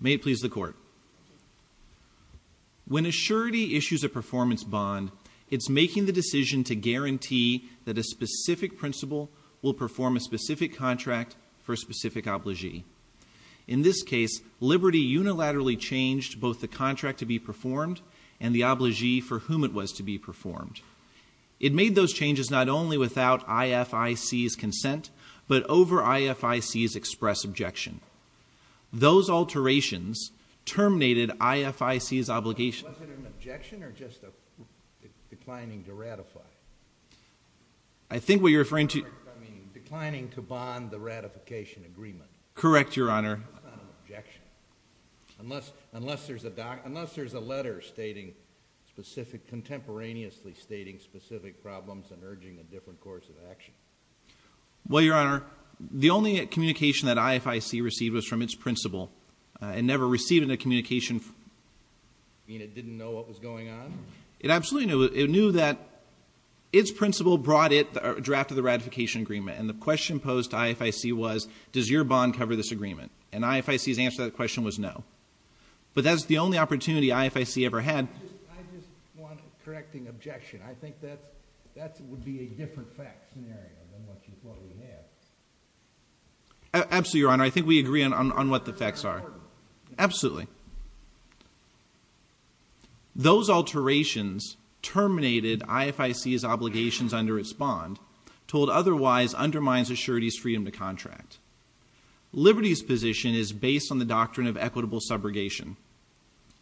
May it please the Court. When a surety issues a performance bond, it is making the decision to guarantee that a specific principal will perform a specific contract for a specific obligee. In this case, Liberty unilaterally changed both the contract to be performed and the obligee for whom it was to be performed. It made those changes not only without IFIC's consent, but over IFIC's express objection. Those alterations terminated IFIC's obligation to bond the ratification agreement. Correct, Your Honor. That's not an objection, unless there's a letter stating specific, contemporaneously stating specific problems and urging a different course of action. Well, Your Honor, the only communication that IFIC received was from its principal and never received a communication from... You mean it didn't know what was going on? It absolutely knew. It knew that its principal brought it, the draft of the ratification agreement, and the bond cover this agreement. And IFIC's answer to that question was no. But that's the only opportunity IFIC ever had. I just want a correcting objection. I think that would be a different fact scenario than what we had. Absolutely, Your Honor. I think we agree on what the facts are. Absolutely. Those alterations terminated IFIC's obligations under its bond, told otherwise undermines a surety's freedom to contract. Liberty's position is based on the doctrine of equitable subrogation,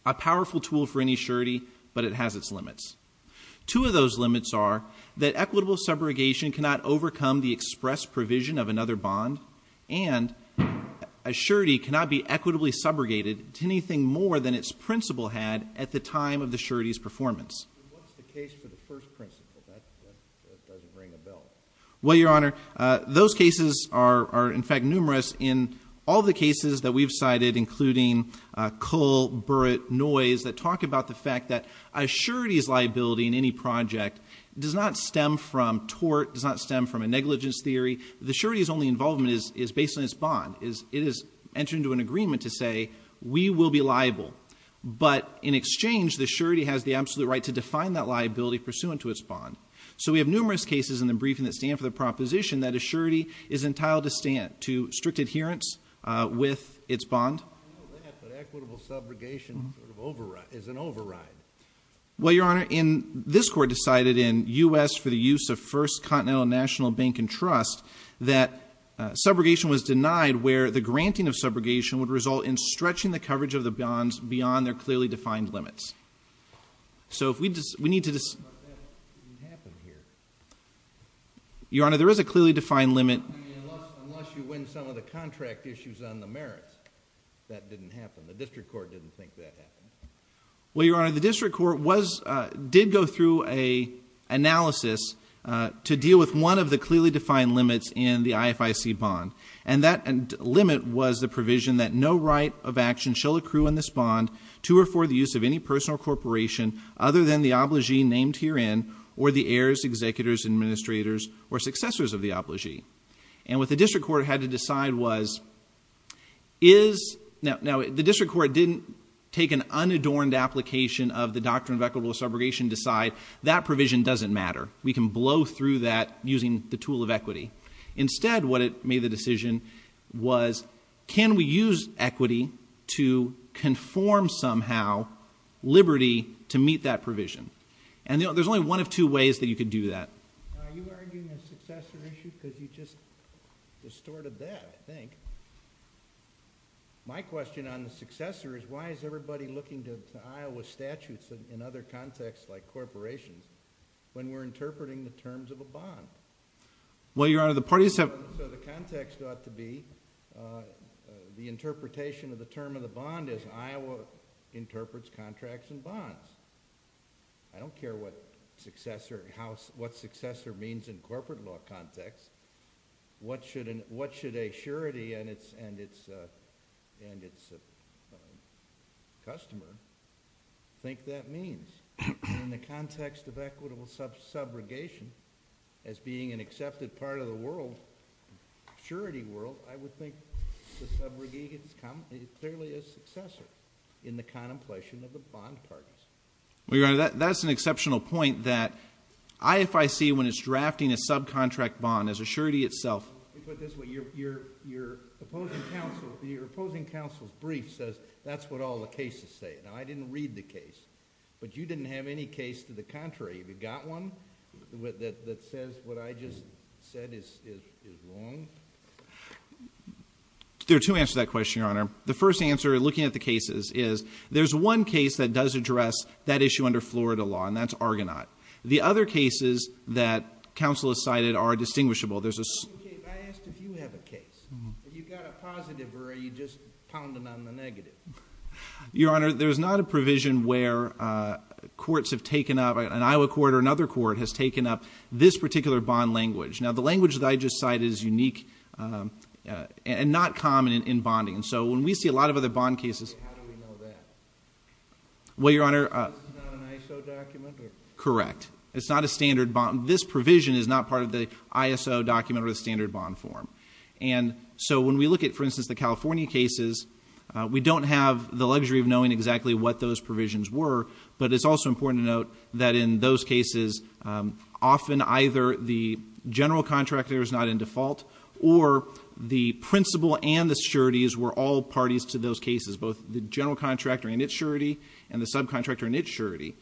a powerful tool for any surety, but it has its limits. Two of those limits are that equitable subrogation cannot overcome the express provision of another bond, and a surety cannot be equitably subrogated to anything more than its principal had at the time of the surety's performance. What's the case for the first principle? That doesn't ring a bell. Well, Your Honor, those cases are, in fact, numerous in all the cases that we've cited, including Kull, Burrett, Noyes, that talk about the fact that a surety's liability in any project does not stem from tort, does not stem from a negligence theory. The surety's only involvement is based on its bond. It is entering into an agreement to say, we will be liable. But in exchange, the surety has the absolute right to define that liability pursuant to its bond. So we have numerous cases in the briefing that stand for the proposition that a surety is entitled to stand to strict adherence with its bond. I know that, but equitable subrogation is an override. Well, Your Honor, this Court decided in U.S. for the use of First Continental National Bank and Trust that subrogation was denied where the granting of subrogation would result in stretching the coverage of the bonds beyond their clearly defined limits. So if we need to dis— But that didn't happen here. Your Honor, there is a clearly defined limit— I mean, unless you win some of the contract issues on the merits, that didn't happen. The District Court didn't think that happened. Well, Your Honor, the District Court did go through an analysis to deal with one of the clearly defined limits in the IFIC bond. And that limit was the provision that no right of action shall accrue in this bond to or the use of any person or corporation other than the obligee named herein or the heirs, executors, administrators, or successors of the obligee. And what the District Court had to decide was, is— Now, the District Court didn't take an unadorned application of the doctrine of equitable subrogation and decide, that provision doesn't matter. We can blow through that using the tool of equity. Instead, what it made the decision was, can we use equity to conform somehow liberty to meet that provision? And there's only one of two ways that you could do that. Are you arguing a successor issue? Because you just distorted that, I think. My question on the successor is, why is everybody looking to Iowa statutes in other contexts like corporations when we're interpreting the terms of a bond? Well, Your Honor, the parties have— So the context ought to be the interpretation of the term of the bond as Iowa interprets contracts and bonds. I don't care what successor means in corporate law context. What should a surety and its customer think that means? In the context of equitable subrogation as being an accepted part of the world, surety world, I would think the subrogate is clearly a successor in the contemplation of the bond parties. Well, Your Honor, that's an exceptional point that IFIC when it's drafting a subcontract bond as a surety itself— Let me put it this way. Your opposing counsel's brief says that's what all the cases say. Now, I didn't read the case. But you didn't have any case to the contrary. Have you got one that says what I just said is wrong? There are two answers to that question, Your Honor. The first answer, looking at the cases, is there's one case that does address that issue under Florida law, and that's Argonaut. The other cases that counsel has cited are distinguishable. I asked if you have a case. Have you got a positive or are you just pounding on the negative? Your Honor, there's not a provision where courts have taken up— an Iowa court or another court has taken up this particular bond language. Now, the language that I just cited is unique and not common in bonding. So when we see a lot of other bond cases— How do we know that? Well, Your Honor— This is not an ISO document? Correct. It's not a standard bond. This provision is not part of the ISO document or the standard bond form. So when we look at, for instance, the California cases, we don't have the luxury of knowing exactly what those provisions were, but it's also important to note that in those cases, often either the general contractor is not in default or the principal and the sureties were all parties to those cases, both the general contractor in its surety and the subcontractor in its surety.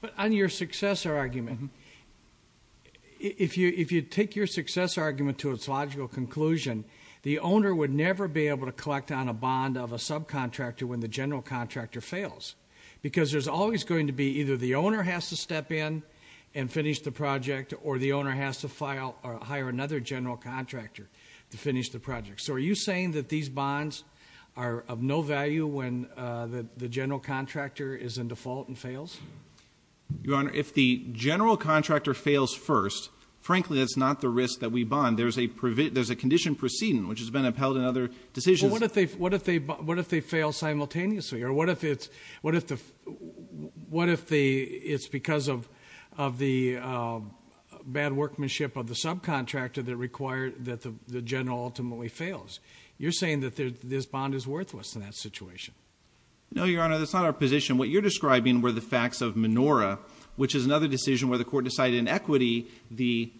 But on your successor argument, if you take your successor argument to its logical conclusion, the owner would never be able to collect on a bond of a subcontractor when the general contractor fails because there's always going to be either the owner has to step in and finish the project or the owner has to hire another general contractor to finish the project. So are you saying that these bonds are of no value when the general contractor is in default and fails? Your Honor, if the general contractor fails first, frankly, that's not the risk that we bond. There's a condition proceeding, which has been upheld in other decisions. Well, what if they fail simultaneously? Or what if it's because of the bad workmanship of the subcontractor that the general ultimately fails? You're saying that this bond is worthless in that situation. No, Your Honor, that's not our position. What you're describing were the facts of Menora, which is another decision where the court decided in equity the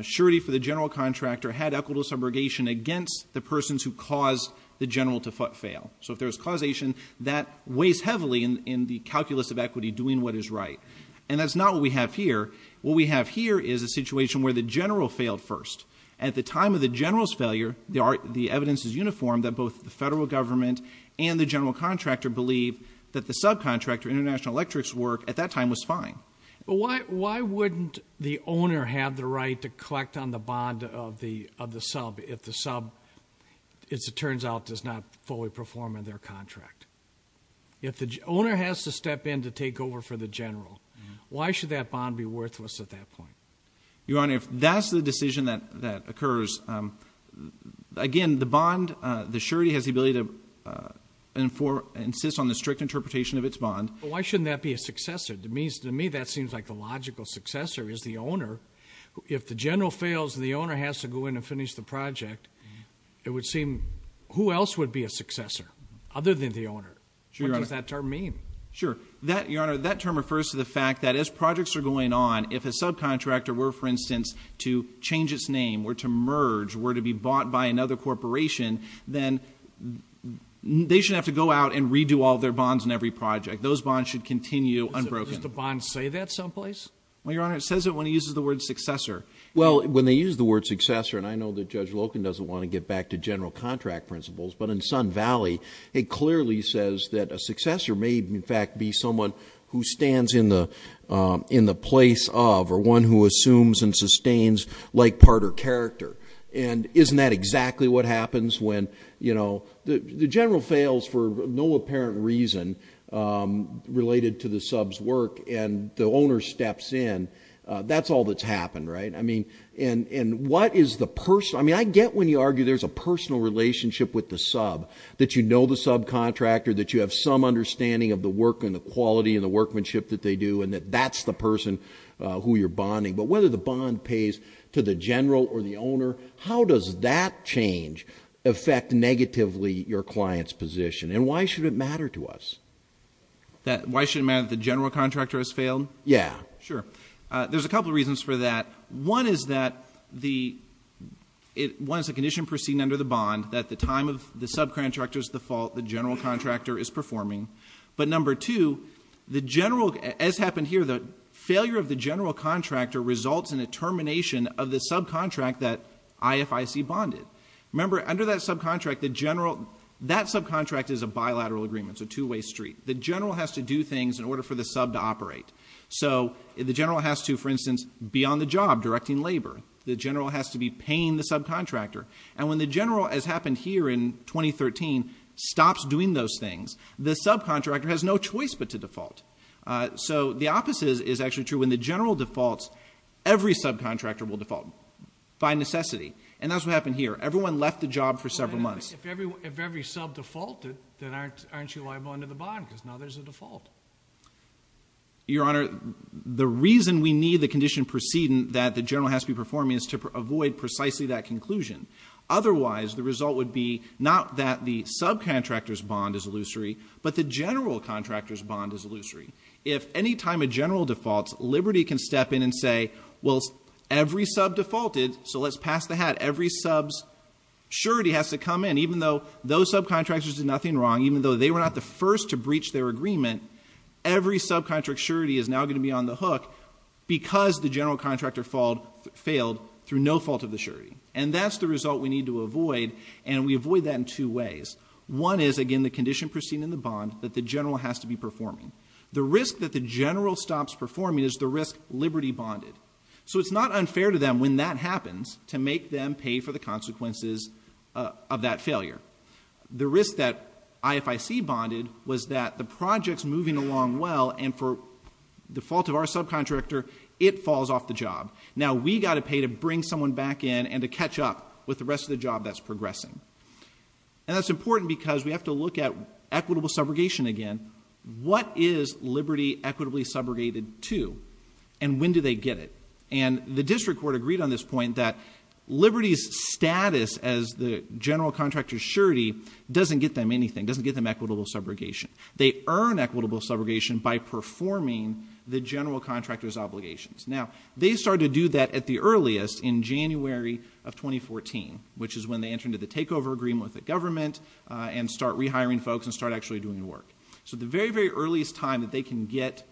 surety for the general contractor had equitable subrogation against the persons who caused the general to fail. So if there's causation, that weighs heavily in the calculus of equity doing what is right. And that's not what we have here. What we have here is a situation where the general failed first. At the time of the general's failure, the evidence is uniform that both the federal government and the general contractor believe that the subcontractor, International Electric's work at that time was fine. Why wouldn't the owner have the right to collect on the bond of the sub if the sub, as it turns out, does not fully perform in their contract? If the owner has to step in to take over for the general, why should that bond be worthless at that point? Your Honor, if that's the decision that occurs, again, the bond, the surety, has the ability to insist on the strict interpretation of its bond. But why shouldn't that be a successor? To me, that seems like the logical successor is the owner. If the general fails and the owner has to go in and finish the project, it would seem who else would be a successor other than the owner? What does that term mean? Sure. Your Honor, that term refers to the fact that as projects are going on, if a subcontractor were, for instance, to change its name, were to merge, were to be bought by another corporation, then they should have to go out and redo all their bonds in every project. Those bonds should continue unbroken. Does the bond say that someplace? Well, Your Honor, it says it when it uses the word successor. Well, when they use the word successor, and I know that Judge Loken doesn't want to get back to general contract principles, but in Sun Valley it clearly says that a successor may, in fact, be someone who stands in the place of, or one who assumes and sustains like part or character. And isn't that exactly what happens when, you know, the general fails for no apparent reason related to the sub's work, and the owner steps in? That's all that's happened, right? I mean, and what is the person? I mean, I get when you argue there's a personal relationship with the sub, that you know the subcontractor, that you have some understanding of the work and the quality and the workmanship that they do, and that that's the person who you're bonding. But whether the bond pays to the general or the owner, how does that change affect negatively your client's position? And why should it matter to us? Why should it matter that the general contractor has failed? Yeah. Sure. There's a couple of reasons for that. One is that the one is a condition proceeding under the bond that the time of the subcontractor's default, the general contractor is performing. But number two, the general, as happened here, the failure of the general contractor results in a termination of the subcontract that IFIC bonded. Remember, under that subcontract, the general, that subcontract is a bilateral agreement, it's a two-way street. The general has to do things in order for the sub to operate. So the general has to, for instance, be on the job directing labor. The general has to be paying the subcontractor. And when the general, as happened here in 2013, stops doing those things, the subcontractor has no choice but to default. So the opposite is actually true. When the general defaults, every subcontractor will default by necessity. And that's what happened here. Everyone left the job for several months. If every sub defaulted, then aren't you liable under the bond? Because now there's a default. Your Honor, the reason we need the condition proceeding that the general has to be Otherwise, the result would be not that the subcontractor's bond is illusory, but the general contractor's bond is illusory. If any time a general defaults, Liberty can step in and say, Well, every sub defaulted, so let's pass the hat. Every sub's surety has to come in, even though those subcontractors did nothing wrong, even though they were not the first to breach their agreement. Every subcontract surety is now going to be on the hook because the general contractor failed through no fault of the surety. And that's the result we need to avoid. And we avoid that in two ways. One is, again, the condition proceeding in the bond that the general has to be performing. The risk that the general stops performing is the risk Liberty bonded. So it's not unfair to them when that happens to make them pay for the consequences of that failure. The risk that IFIC bonded was that the project's moving along well and for the fault of our subcontractor, it falls off the job. Now we've got to pay to bring someone back in and to catch up with the rest of the job that's progressing. And that's important because we have to look at equitable subrogation again. What is Liberty equitably subrogated to? And when do they get it? And the district court agreed on this point that Liberty's status as the general contractor's surety doesn't get them anything, doesn't get them equitable subrogation. They earn equitable subrogation by performing the general contractor's obligations. Now they started to do that at the earliest in January of 2014, which is when they enter into the takeover agreement with the government and start rehiring folks and start actually doing the work. So the very, very earliest time that they can get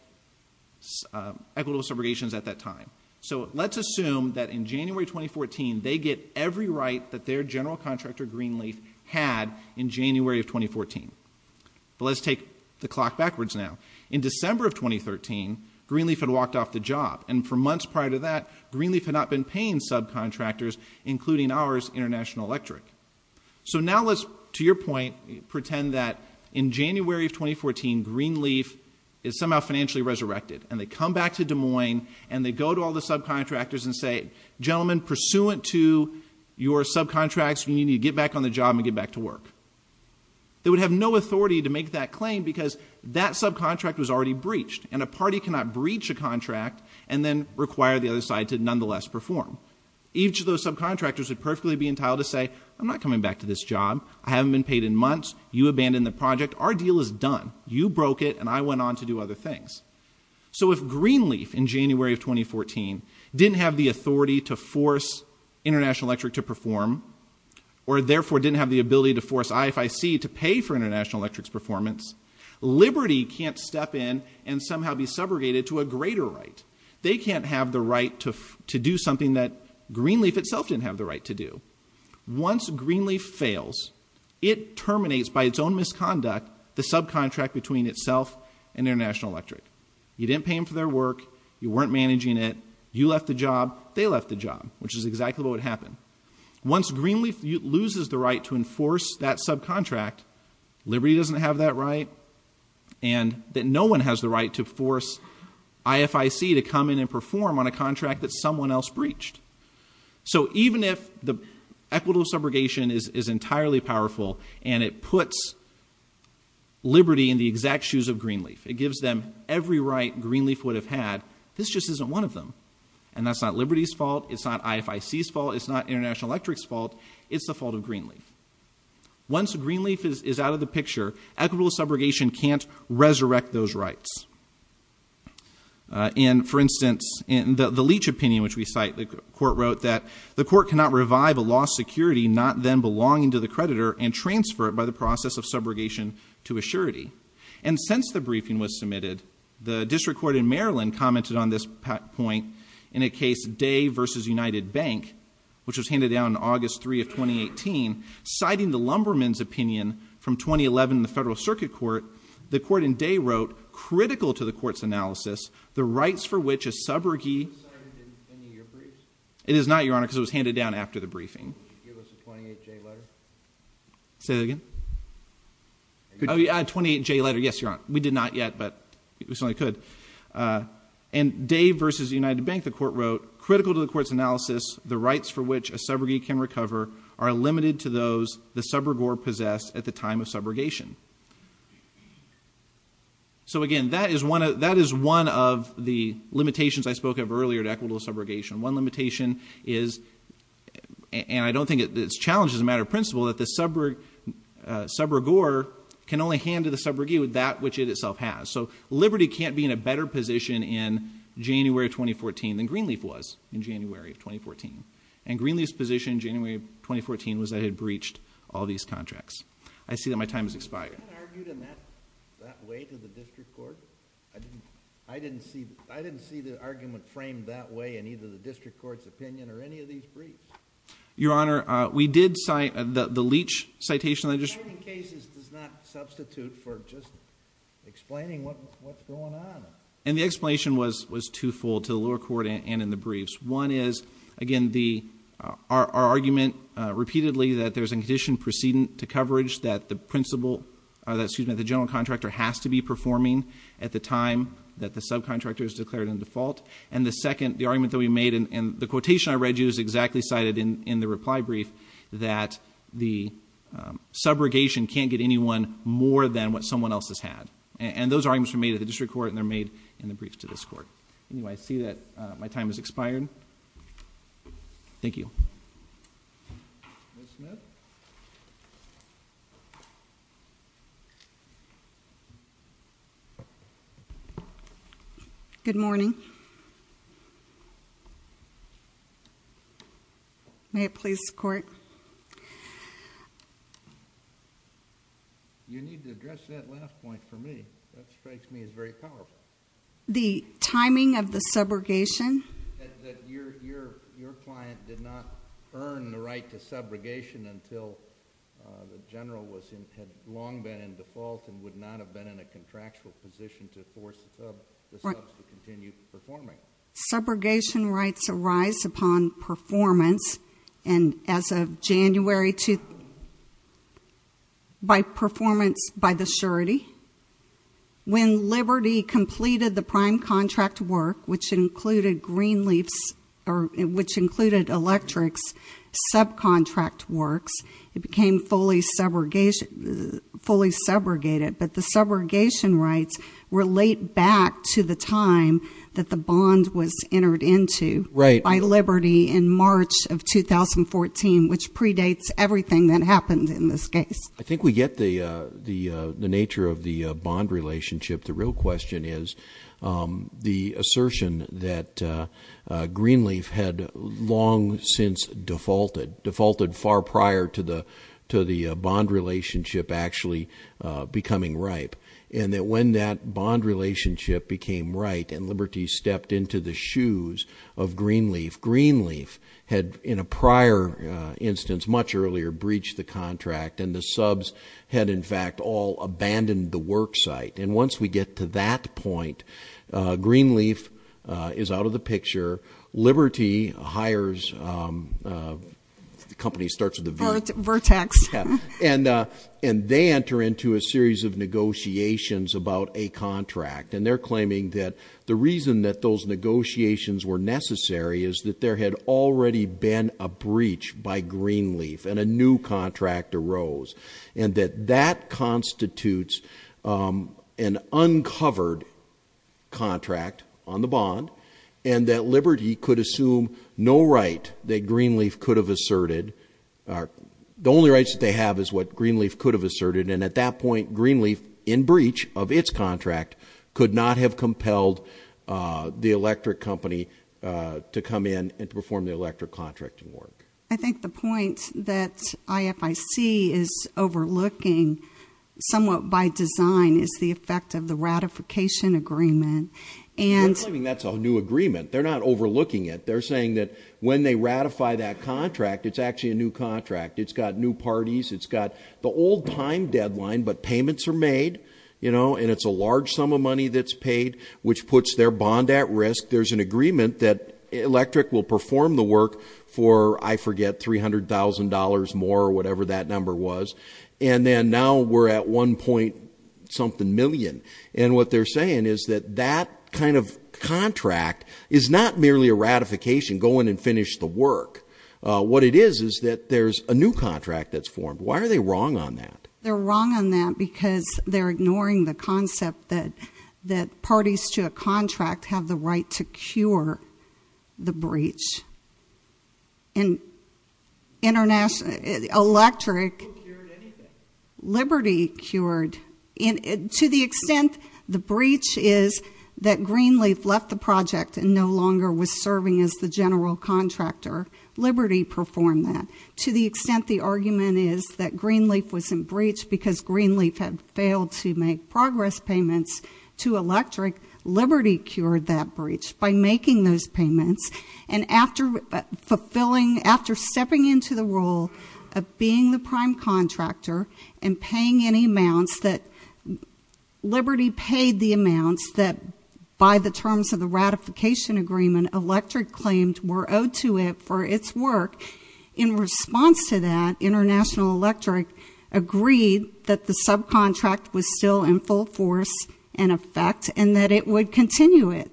equitable subrogations at that time. So let's assume that in January 2014, they get every right that their general contractor, Greenleaf, had in January of 2014. But let's take the clock backwards now. In December of 2013, Greenleaf had walked off the job and for months prior to that, Greenleaf had not been paying subcontractors, including ours, International Electric. So now let's, to your point, pretend that in January of 2014, Greenleaf is somehow financially resurrected and they come back to Des Moines and they go to all the subcontractors and say, gentlemen, pursuant to your subcontracts, you need to get back on the job and get back to work. They would have no authority to make that claim because that subcontract was already breached and a party cannot breach a contract and then require the other side to nonetheless perform. Each of those subcontractors would perfectly be entitled to say, I'm not coming back to this job, I haven't been paid in months, you abandoned the project, our deal is done. You broke it and I went on to do other things. So if Greenleaf in January of 2014 didn't have the authority to force International Electric to perform or therefore didn't have the ability to force IFIC to pay for International Electric's performance, Liberty can't step in and somehow be subrogated to a greater right. They can't have the right to do something that Greenleaf itself didn't have the right to do. Once Greenleaf fails, it terminates by its own misconduct the subcontract between itself and International Electric. You didn't pay them for their work, you weren't managing it, you left the job, they left the job, which is exactly what would happen. Once Greenleaf loses the right to enforce that subcontract, Liberty doesn't have that right, and that no one has the right to force IFIC to come in and perform on a contract that someone else breached. So even if the equitable subrogation is entirely powerful and it puts Liberty in the exact shoes of Greenleaf, it gives them every right Greenleaf would have had, this just isn't one of them. And that's not Liberty's fault, it's not IFIC's fault, it's not International Electric's fault, it's the fault of Greenleaf. Once Greenleaf is out of the picture, equitable subrogation can't resurrect those rights. For instance, in the Leach opinion, which we cite, the court wrote that the court cannot revive a lost security not then belonging to the creditor and transfer it by the process of subrogation to a surety. And since the briefing was submitted, the district court in Maryland commented on this point in a case, Day v. United Bank, which was handed down on August 3 of 2018, citing the Lumberman's opinion from 2011 in the Federal Circuit Court, the court in Day wrote, critical to the court's analysis, the rights for which a subrogee... It is not, Your Honor, because it was handed down after the briefing. Say that again? Oh, yeah, 28J letter, yes, Your Honor. We did not yet, but we certainly could. And Day v. United Bank, the court wrote, critical to the court's analysis, the rights for which a subrogee can recover are limited to those the subrogor possessed at the time of subrogation. So, again, that is one of the limitations I spoke of earlier to equitable subrogation. One limitation is... And I don't think it's challenged as a matter of principle that the subrogor can only hand to the subrogee that which it itself has. So liberty can't be in a better position in January of 2014 than Greenleaf was in January of 2014. And Greenleaf's position in January of 2014 was that it had breached all these contracts. I see that my time has expired. I didn't argue in that way to the district court. I didn't see the argument framed that way in either the district court's opinion or any of these briefs. Your Honor, we did cite the Leach citation... Citing cases does not substitute for just explaining what's going on. And the explanation was twofold to the lower court and in the briefs. One is, again, our argument repeatedly that there's a condition precedent to coverage that the general contractor has to be performing at the time that the subcontractor is declared in default. And the second, the argument that we made, and the quotation I read you is exactly cited in the reply brief, that the subrogation can't get anyone more than what someone else has had. And those arguments were made at the district court and they're made in the briefs to this court. Anyway, I see that my time has expired. Thank you. Ms. Smith? Good morning. May it please the Court? You need to address that last point for me. That strikes me as very powerful. The timing of the subrogation? That your client did not earn the right to subrogation until the general had long been in default and would not have been in a contractual position to force the subs to continue performing. Subrogation rights arise upon performance and as of January 2, by performance, by the surety. When Liberty completed the prime contract work, which included Greenleaf's, or which included Electric's subcontract works, it became fully subrogated. But the subrogation rights relate back to the time that the bond was entered into by Liberty in March of 2014, which predates everything that happened in this case. I think we get the nature of the bond relationship. The real question is the assertion that Greenleaf had long since defaulted, defaulted far prior to the bond relationship actually becoming ripe, and that when that bond relationship became ripe and Liberty stepped into the shoes of Greenleaf, Greenleaf had in a prior instance, much earlier, breached the contract and the subs had in fact all abandoned the work site. And once we get to that point, Greenleaf is out of the picture. Liberty hires, the company starts with a vertex, and they enter into a series of negotiations about a contract and they're claiming that the reason that those negotiations were necessary is that there had already been a breach by Greenleaf and a new contract arose and that that constitutes an uncovered contract on the bond and that Liberty could assume no right that Greenleaf could have asserted. The only rights that they have is what Greenleaf could have asserted, and at that point, Greenleaf, in breach of its contract, could not have compelled the electric company to come in and perform the electric contracting work. I think the point that IFIC is overlooking somewhat by design is the effect of the ratification agreement. They're claiming that's a new agreement. They're not overlooking it. They're saying that when they ratify that contract, it's actually a new contract. It's got new parties. It's got the old time deadline, but payments are made, you know, and it's a large sum of money that's paid, which puts their bond at risk. There's an agreement that electric will perform the work for, I forget, $300,000 more or whatever that number was, and then now we're at one point something million, and what they're saying is that that kind of contract is not merely a ratification, go in and finish the work. What it is is that there's a new contract that's formed. Why are they wrong on that? They're wrong on that because they're ignoring the concept that parties to a contract have the right to cure the breach. And electric liberty cured. To the extent the breach is that Greenleaf left the project and no longer was serving as the general contractor, liberty performed that. To the extent the argument is that Greenleaf was in breach because Greenleaf had failed to make progress payments to electric, liberty cured that breach by making those payments and after stepping into the role of being the prime contractor and paying any amounts that liberty paid the amounts that by the terms of the ratification agreement electric claimed were owed to it for its work, in response to that, International Electric agreed that the subcontract was still in full force and effect and that it would continue it.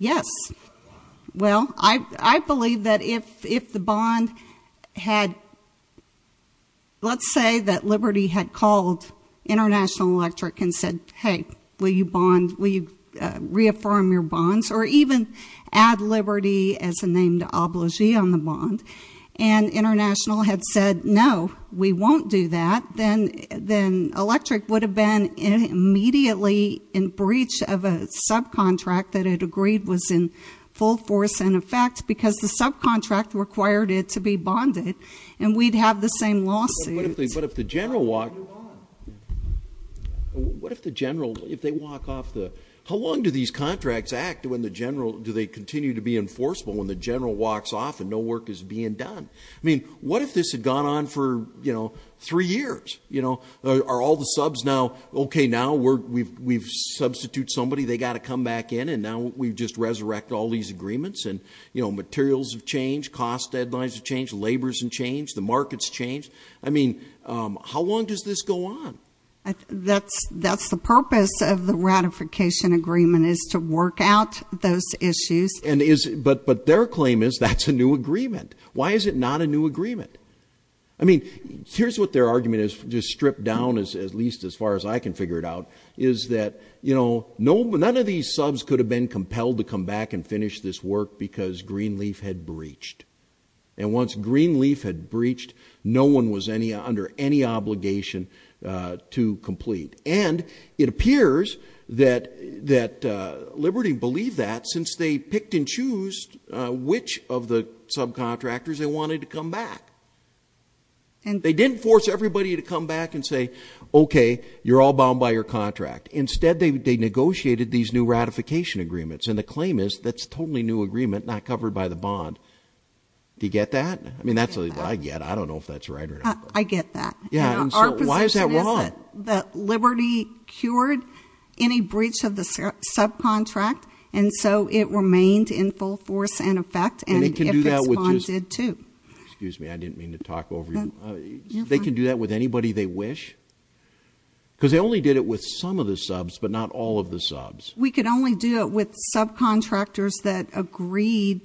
Yes. Well, I believe that if the bond had, let's say that liberty had called International Electric and said, hey, will you bond, will you reaffirm your bonds or even add liberty as a named obligee on the bond and International had said, no, we won't do that, then Electric would have been immediately in breach of a subcontract that it agreed was in full force and effect because the subcontract required it to be bonded and we'd have the same lawsuit. What if the general, if they walk off the, how long do these contracts act when the general, do they continue to be enforceable when the general walks off and no work is being done? I mean, what if this had gone on for three years? Are all the subs now, okay, now we've substituted somebody, they've got to come back in and now we just resurrect all these agreements and materials have changed, cost deadlines have changed, labor's been changed, the market's changed. I mean, how long does this go on? That's the purpose of the ratification agreement is to work out those issues. But their claim is that's a new agreement. Why is it not a new agreement? I mean, here's what their argument is, just stripped down at least as far as I can figure it out, is that none of these subs could have been compelled to come back and finish this work because Greenleaf had breached and once Greenleaf had breached, no one was under any obligation to complete. And it appears that Liberty believed that since they picked and chose which of the subcontractors they wanted to come back. They didn't force everybody to come back and say, okay, you're all bound by your contract. Instead, they negotiated these new ratification agreements and the claim is that's a totally new agreement, not covered by the bond. Do you get that? I mean, that's what I get. I don't know if that's right or not. I get that. Yeah. Why is that wrong? That Liberty cured any breach of the subcontract. And so it remained in full force and effect. And it can do that with just. Excuse me. I didn't mean to talk over you. They can do that with anybody they wish. Because they only did it with some of the subs, but not all of the subs. We could only do it with subcontractors that agreed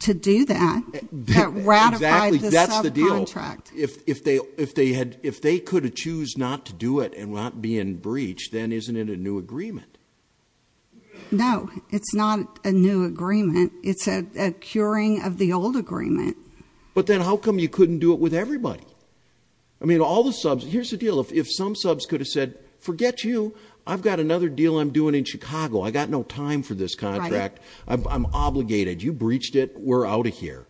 to do that. That ratified the subcontract. Exactly. That's the deal. If they could choose not to do it and not be in breach, then isn't it a new agreement? No, it's not a new agreement. It's a curing of the old agreement. But then how come you couldn't do it with everybody? I mean, all the subs. Here's the deal. If some subs could have said, forget you. I've got another deal I'm doing in Chicago. I got no time for this contract. I'm obligated. You breached it. We're out of here.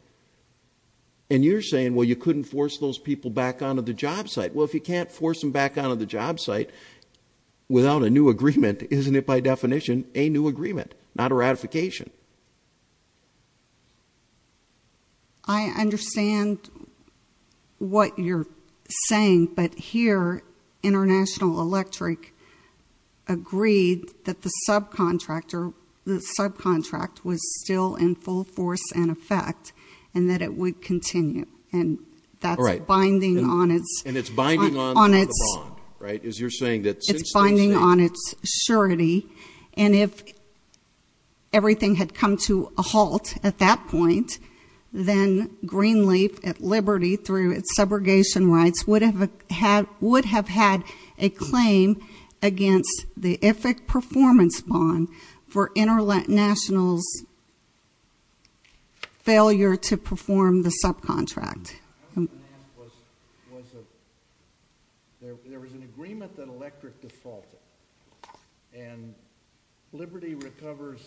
And you're saying, well, you couldn't force those people back onto the job site. Well, if you can't force them back onto the job site without a new agreement, isn't it by definition a new agreement, not a ratification? I understand what you're saying. But here International Electric agreed that the subcontractor, the subcontract was still in full force and effect and that it would continue. And that's binding on its. And it's binding on the bond, right, as you're saying. It's binding on its surety. And if everything had come to a halt at that point, then Greenleaf at Liberty through its subrogation rights would have had a claim against the IFIC performance bond for International's failure to perform the subcontract. There was an agreement that Electric defaulted. And Liberty recovers,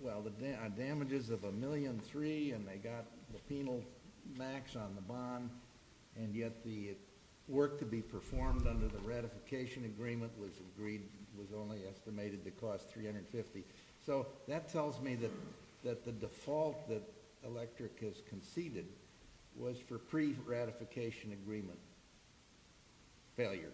well, the damages of a million three, and they got the penal max on the bond, and yet the work to be performed under the ratification agreement was agreed, was only estimated to cost $350. So that tells me that the default that Electric has conceded was for pre-ratification agreement. Failure.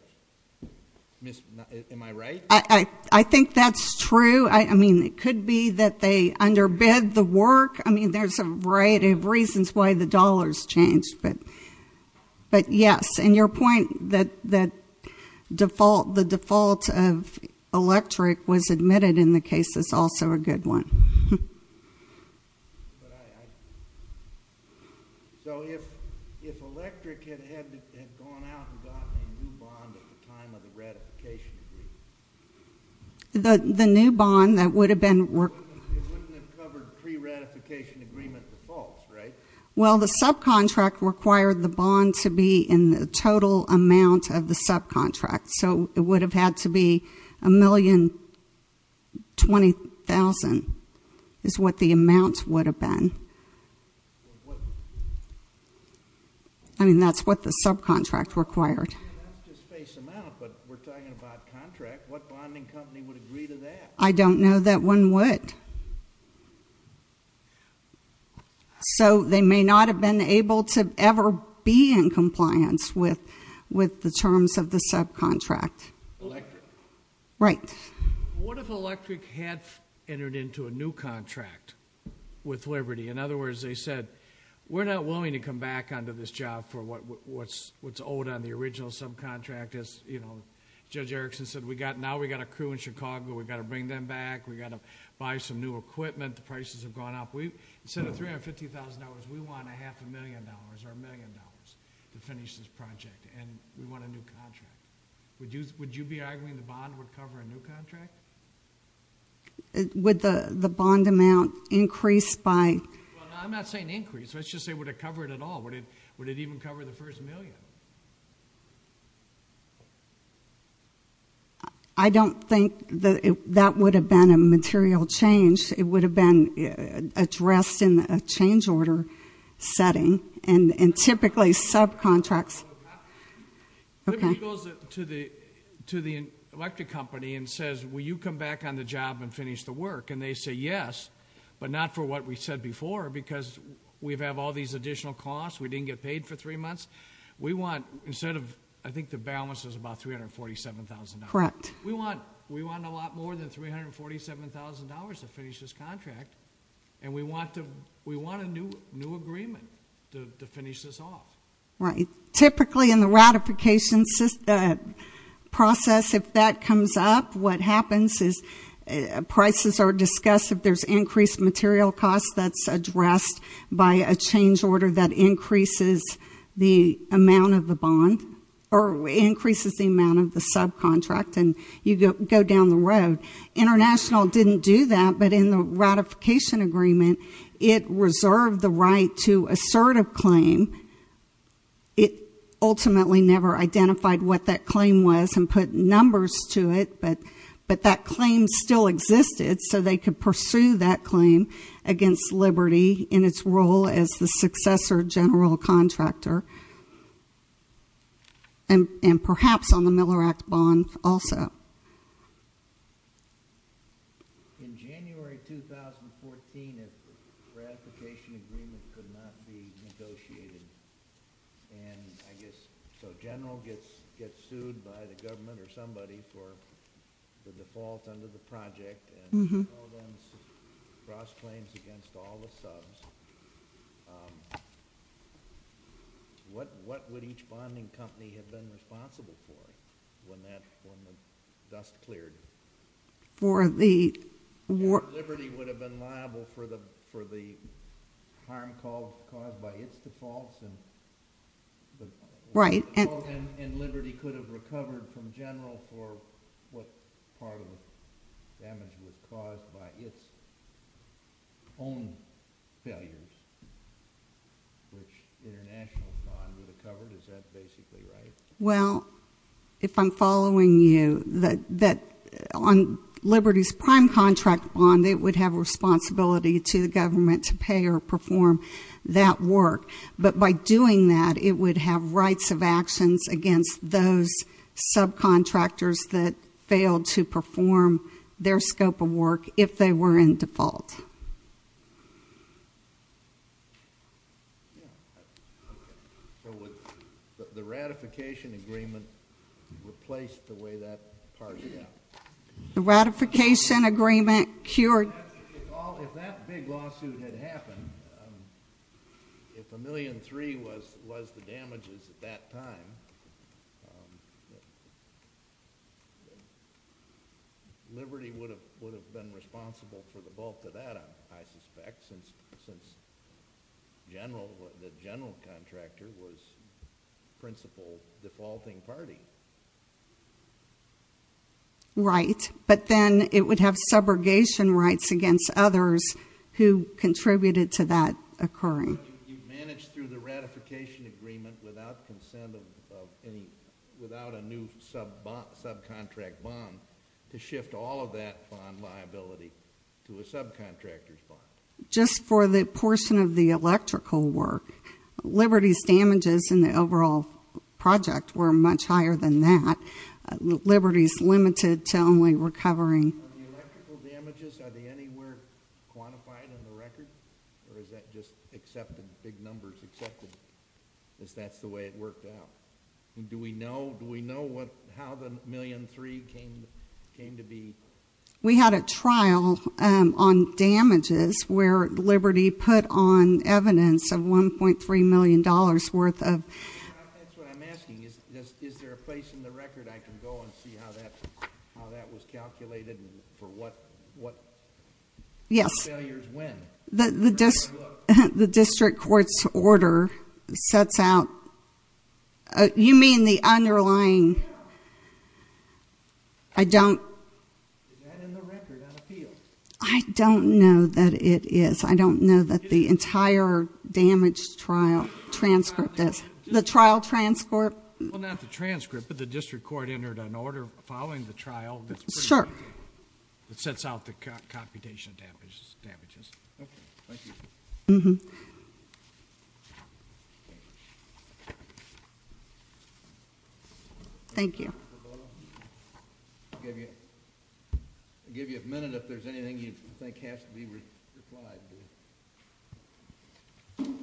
Am I right? I think that's true. I mean, it could be that they underbid the work. I mean, there's a variety of reasons why the dollars changed. But, yes, and your point that the default of Electric was admitted in the case is also a good one. But I, so if Electric had gone out and gotten a new bond at the time of the ratification agreement. The new bond that would have been. It wouldn't have covered pre-ratification agreement defaults, right? Well, the subcontract required the bond to be in the total amount of the subcontract. So it would have had to be $1,020,000 is what the amount would have been. I mean, that's what the subcontract required. That's just base amount, but we're talking about contract. What bonding company would agree to that? I don't know that one would. So they may not have been able to ever be in compliance with the terms of the subcontract. Electric? Right. What if Electric had entered into a new contract with Liberty? In other words, they said, we're not willing to come back onto this job for what's owed on the original subcontract. As Judge Erickson said, now we've got a crew in Chicago. We've got to bring them back. We've got to buy some new equipment. The prices have gone up. Instead of $350,000, we want a half a million dollars or a million dollars to finish this project, and we want a new contract. Would you be arguing the bond would cover a new contract? Would the bond amount increase by? I'm not saying increase. Let's just say would it cover it at all. Would it even cover the first million? I don't think that would have been a material change. It would have been addressed in a change order setting, and typically subcontracts. Okay. Liberty goes to the electric company and says, will you come back on the job and finish the work? And they say yes, but not for what we said before because we have all these additional costs. We didn't get paid for three months. We want, instead of, I think the balance was about $347,000. Correct. We want a lot more than $347,000 to finish this contract, and we want a new agreement to finish this off. Right. Typically in the ratification process, if that comes up, what happens is prices are discussed. If there's increased material costs, that's addressed by a change order that increases the amount of the bond, or increases the amount of the subcontract, and you go down the road. International didn't do that, but in the ratification agreement, it reserved the right to assert a claim. It ultimately never identified what that claim was and put numbers to it, but that claim still existed so they could pursue that claim against Liberty in its role as the successor general contractor, and perhaps on the Miller Act bond also. In January 2014, the ratification agreement could not be negotiated, and I guess the general gets sued by the government or somebody for the default under the project, and all those cross-claims against all the subs. What would each bonding company have been responsible for when the dust cleared? Liberty would have been liable for the harm caused by its defaults, and Liberty could have recovered from general for what part of the damage was caused by its own failures, which the international bond would have covered. Is that basically right? Well, if I'm following you, on Liberty's prime contract bond, it would have responsibility to the government to pay or perform that work, but by doing that, it would have rights of actions against those subcontractors that failed to perform their scope of work if they were in default. Would the ratification agreement replace the way that part went? The ratification agreement cured. If that big lawsuit had happened, if a million three was the damages at that time, Liberty would have been responsible for the bulk of that, I suspect, since the general contractor was the principal defaulting party. Right, but then it would have subrogation rights against others who contributed to that occurring. You've managed through the ratification agreement without a new subcontract bond to shift all of that bond liability to a subcontractor's bond? Just for the portion of the electrical work. Liberty's damages in the overall project were much higher than that. Liberty's limited to only recovering. The electrical damages, are they anywhere quantified in the record, or is that just accepted, big numbers accepted as that's the way it worked out? Do we know how the million three came to be? We had a trial on damages where Liberty put on evidence of $1.3 million worth of— That's what I'm asking, is there a place in the record I can go and see how that was calculated and for what failures when? Yes, the district court's order sets out—you mean the underlying— Is that in the record on appeal? I don't know that it is. I don't know that the entire damaged trial transcript is. The trial transcript? Well, not the transcript, but the district court entered an order following the trial that sets out the computation damages. Okay, thank you. Thank you. I'll give you a minute if there's anything you think has to be replied to.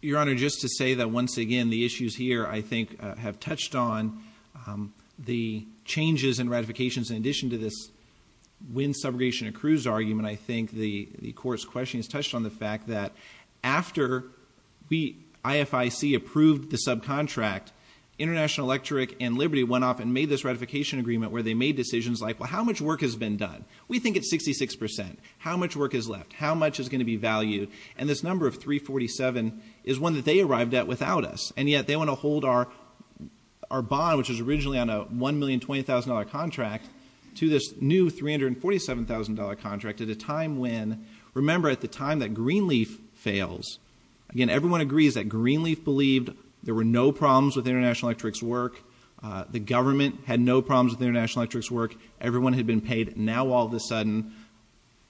Your Honor, just to say that once again, the issues here, I think, have touched on the changes in ratifications in addition to this wind subrogation accrues argument. I think the court's question has touched on the fact that after IFIC approved the subcontract, International Electric and Liberty went off and made this ratification agreement where they made decisions like, well, how much work has been done? We think it's 66%. How much work is left? How much is going to be valued? And this number of 347 is one that they arrived at without us, and yet they want to hold our bond, which was originally on a $1,020,000 contract, to this new $347,000 contract at a time when— remember, at the time that Greenleaf fails. Again, everyone agrees that Greenleaf believed there were no problems with International Electric's work. The government had no problems with International Electric's work. Everyone had been paid. Now all of a sudden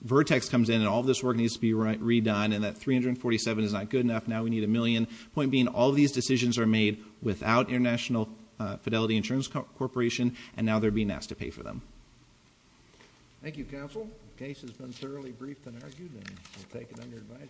Vertex comes in, and all this work needs to be redone, and that 347 is not good enough. Now we need a million. Point being, all these decisions are made without International Fidelity Insurance Corporation, and now they're being asked to pay for them. Thank you, counsel. The case has been thoroughly briefed and argued, and we'll take it under advisory.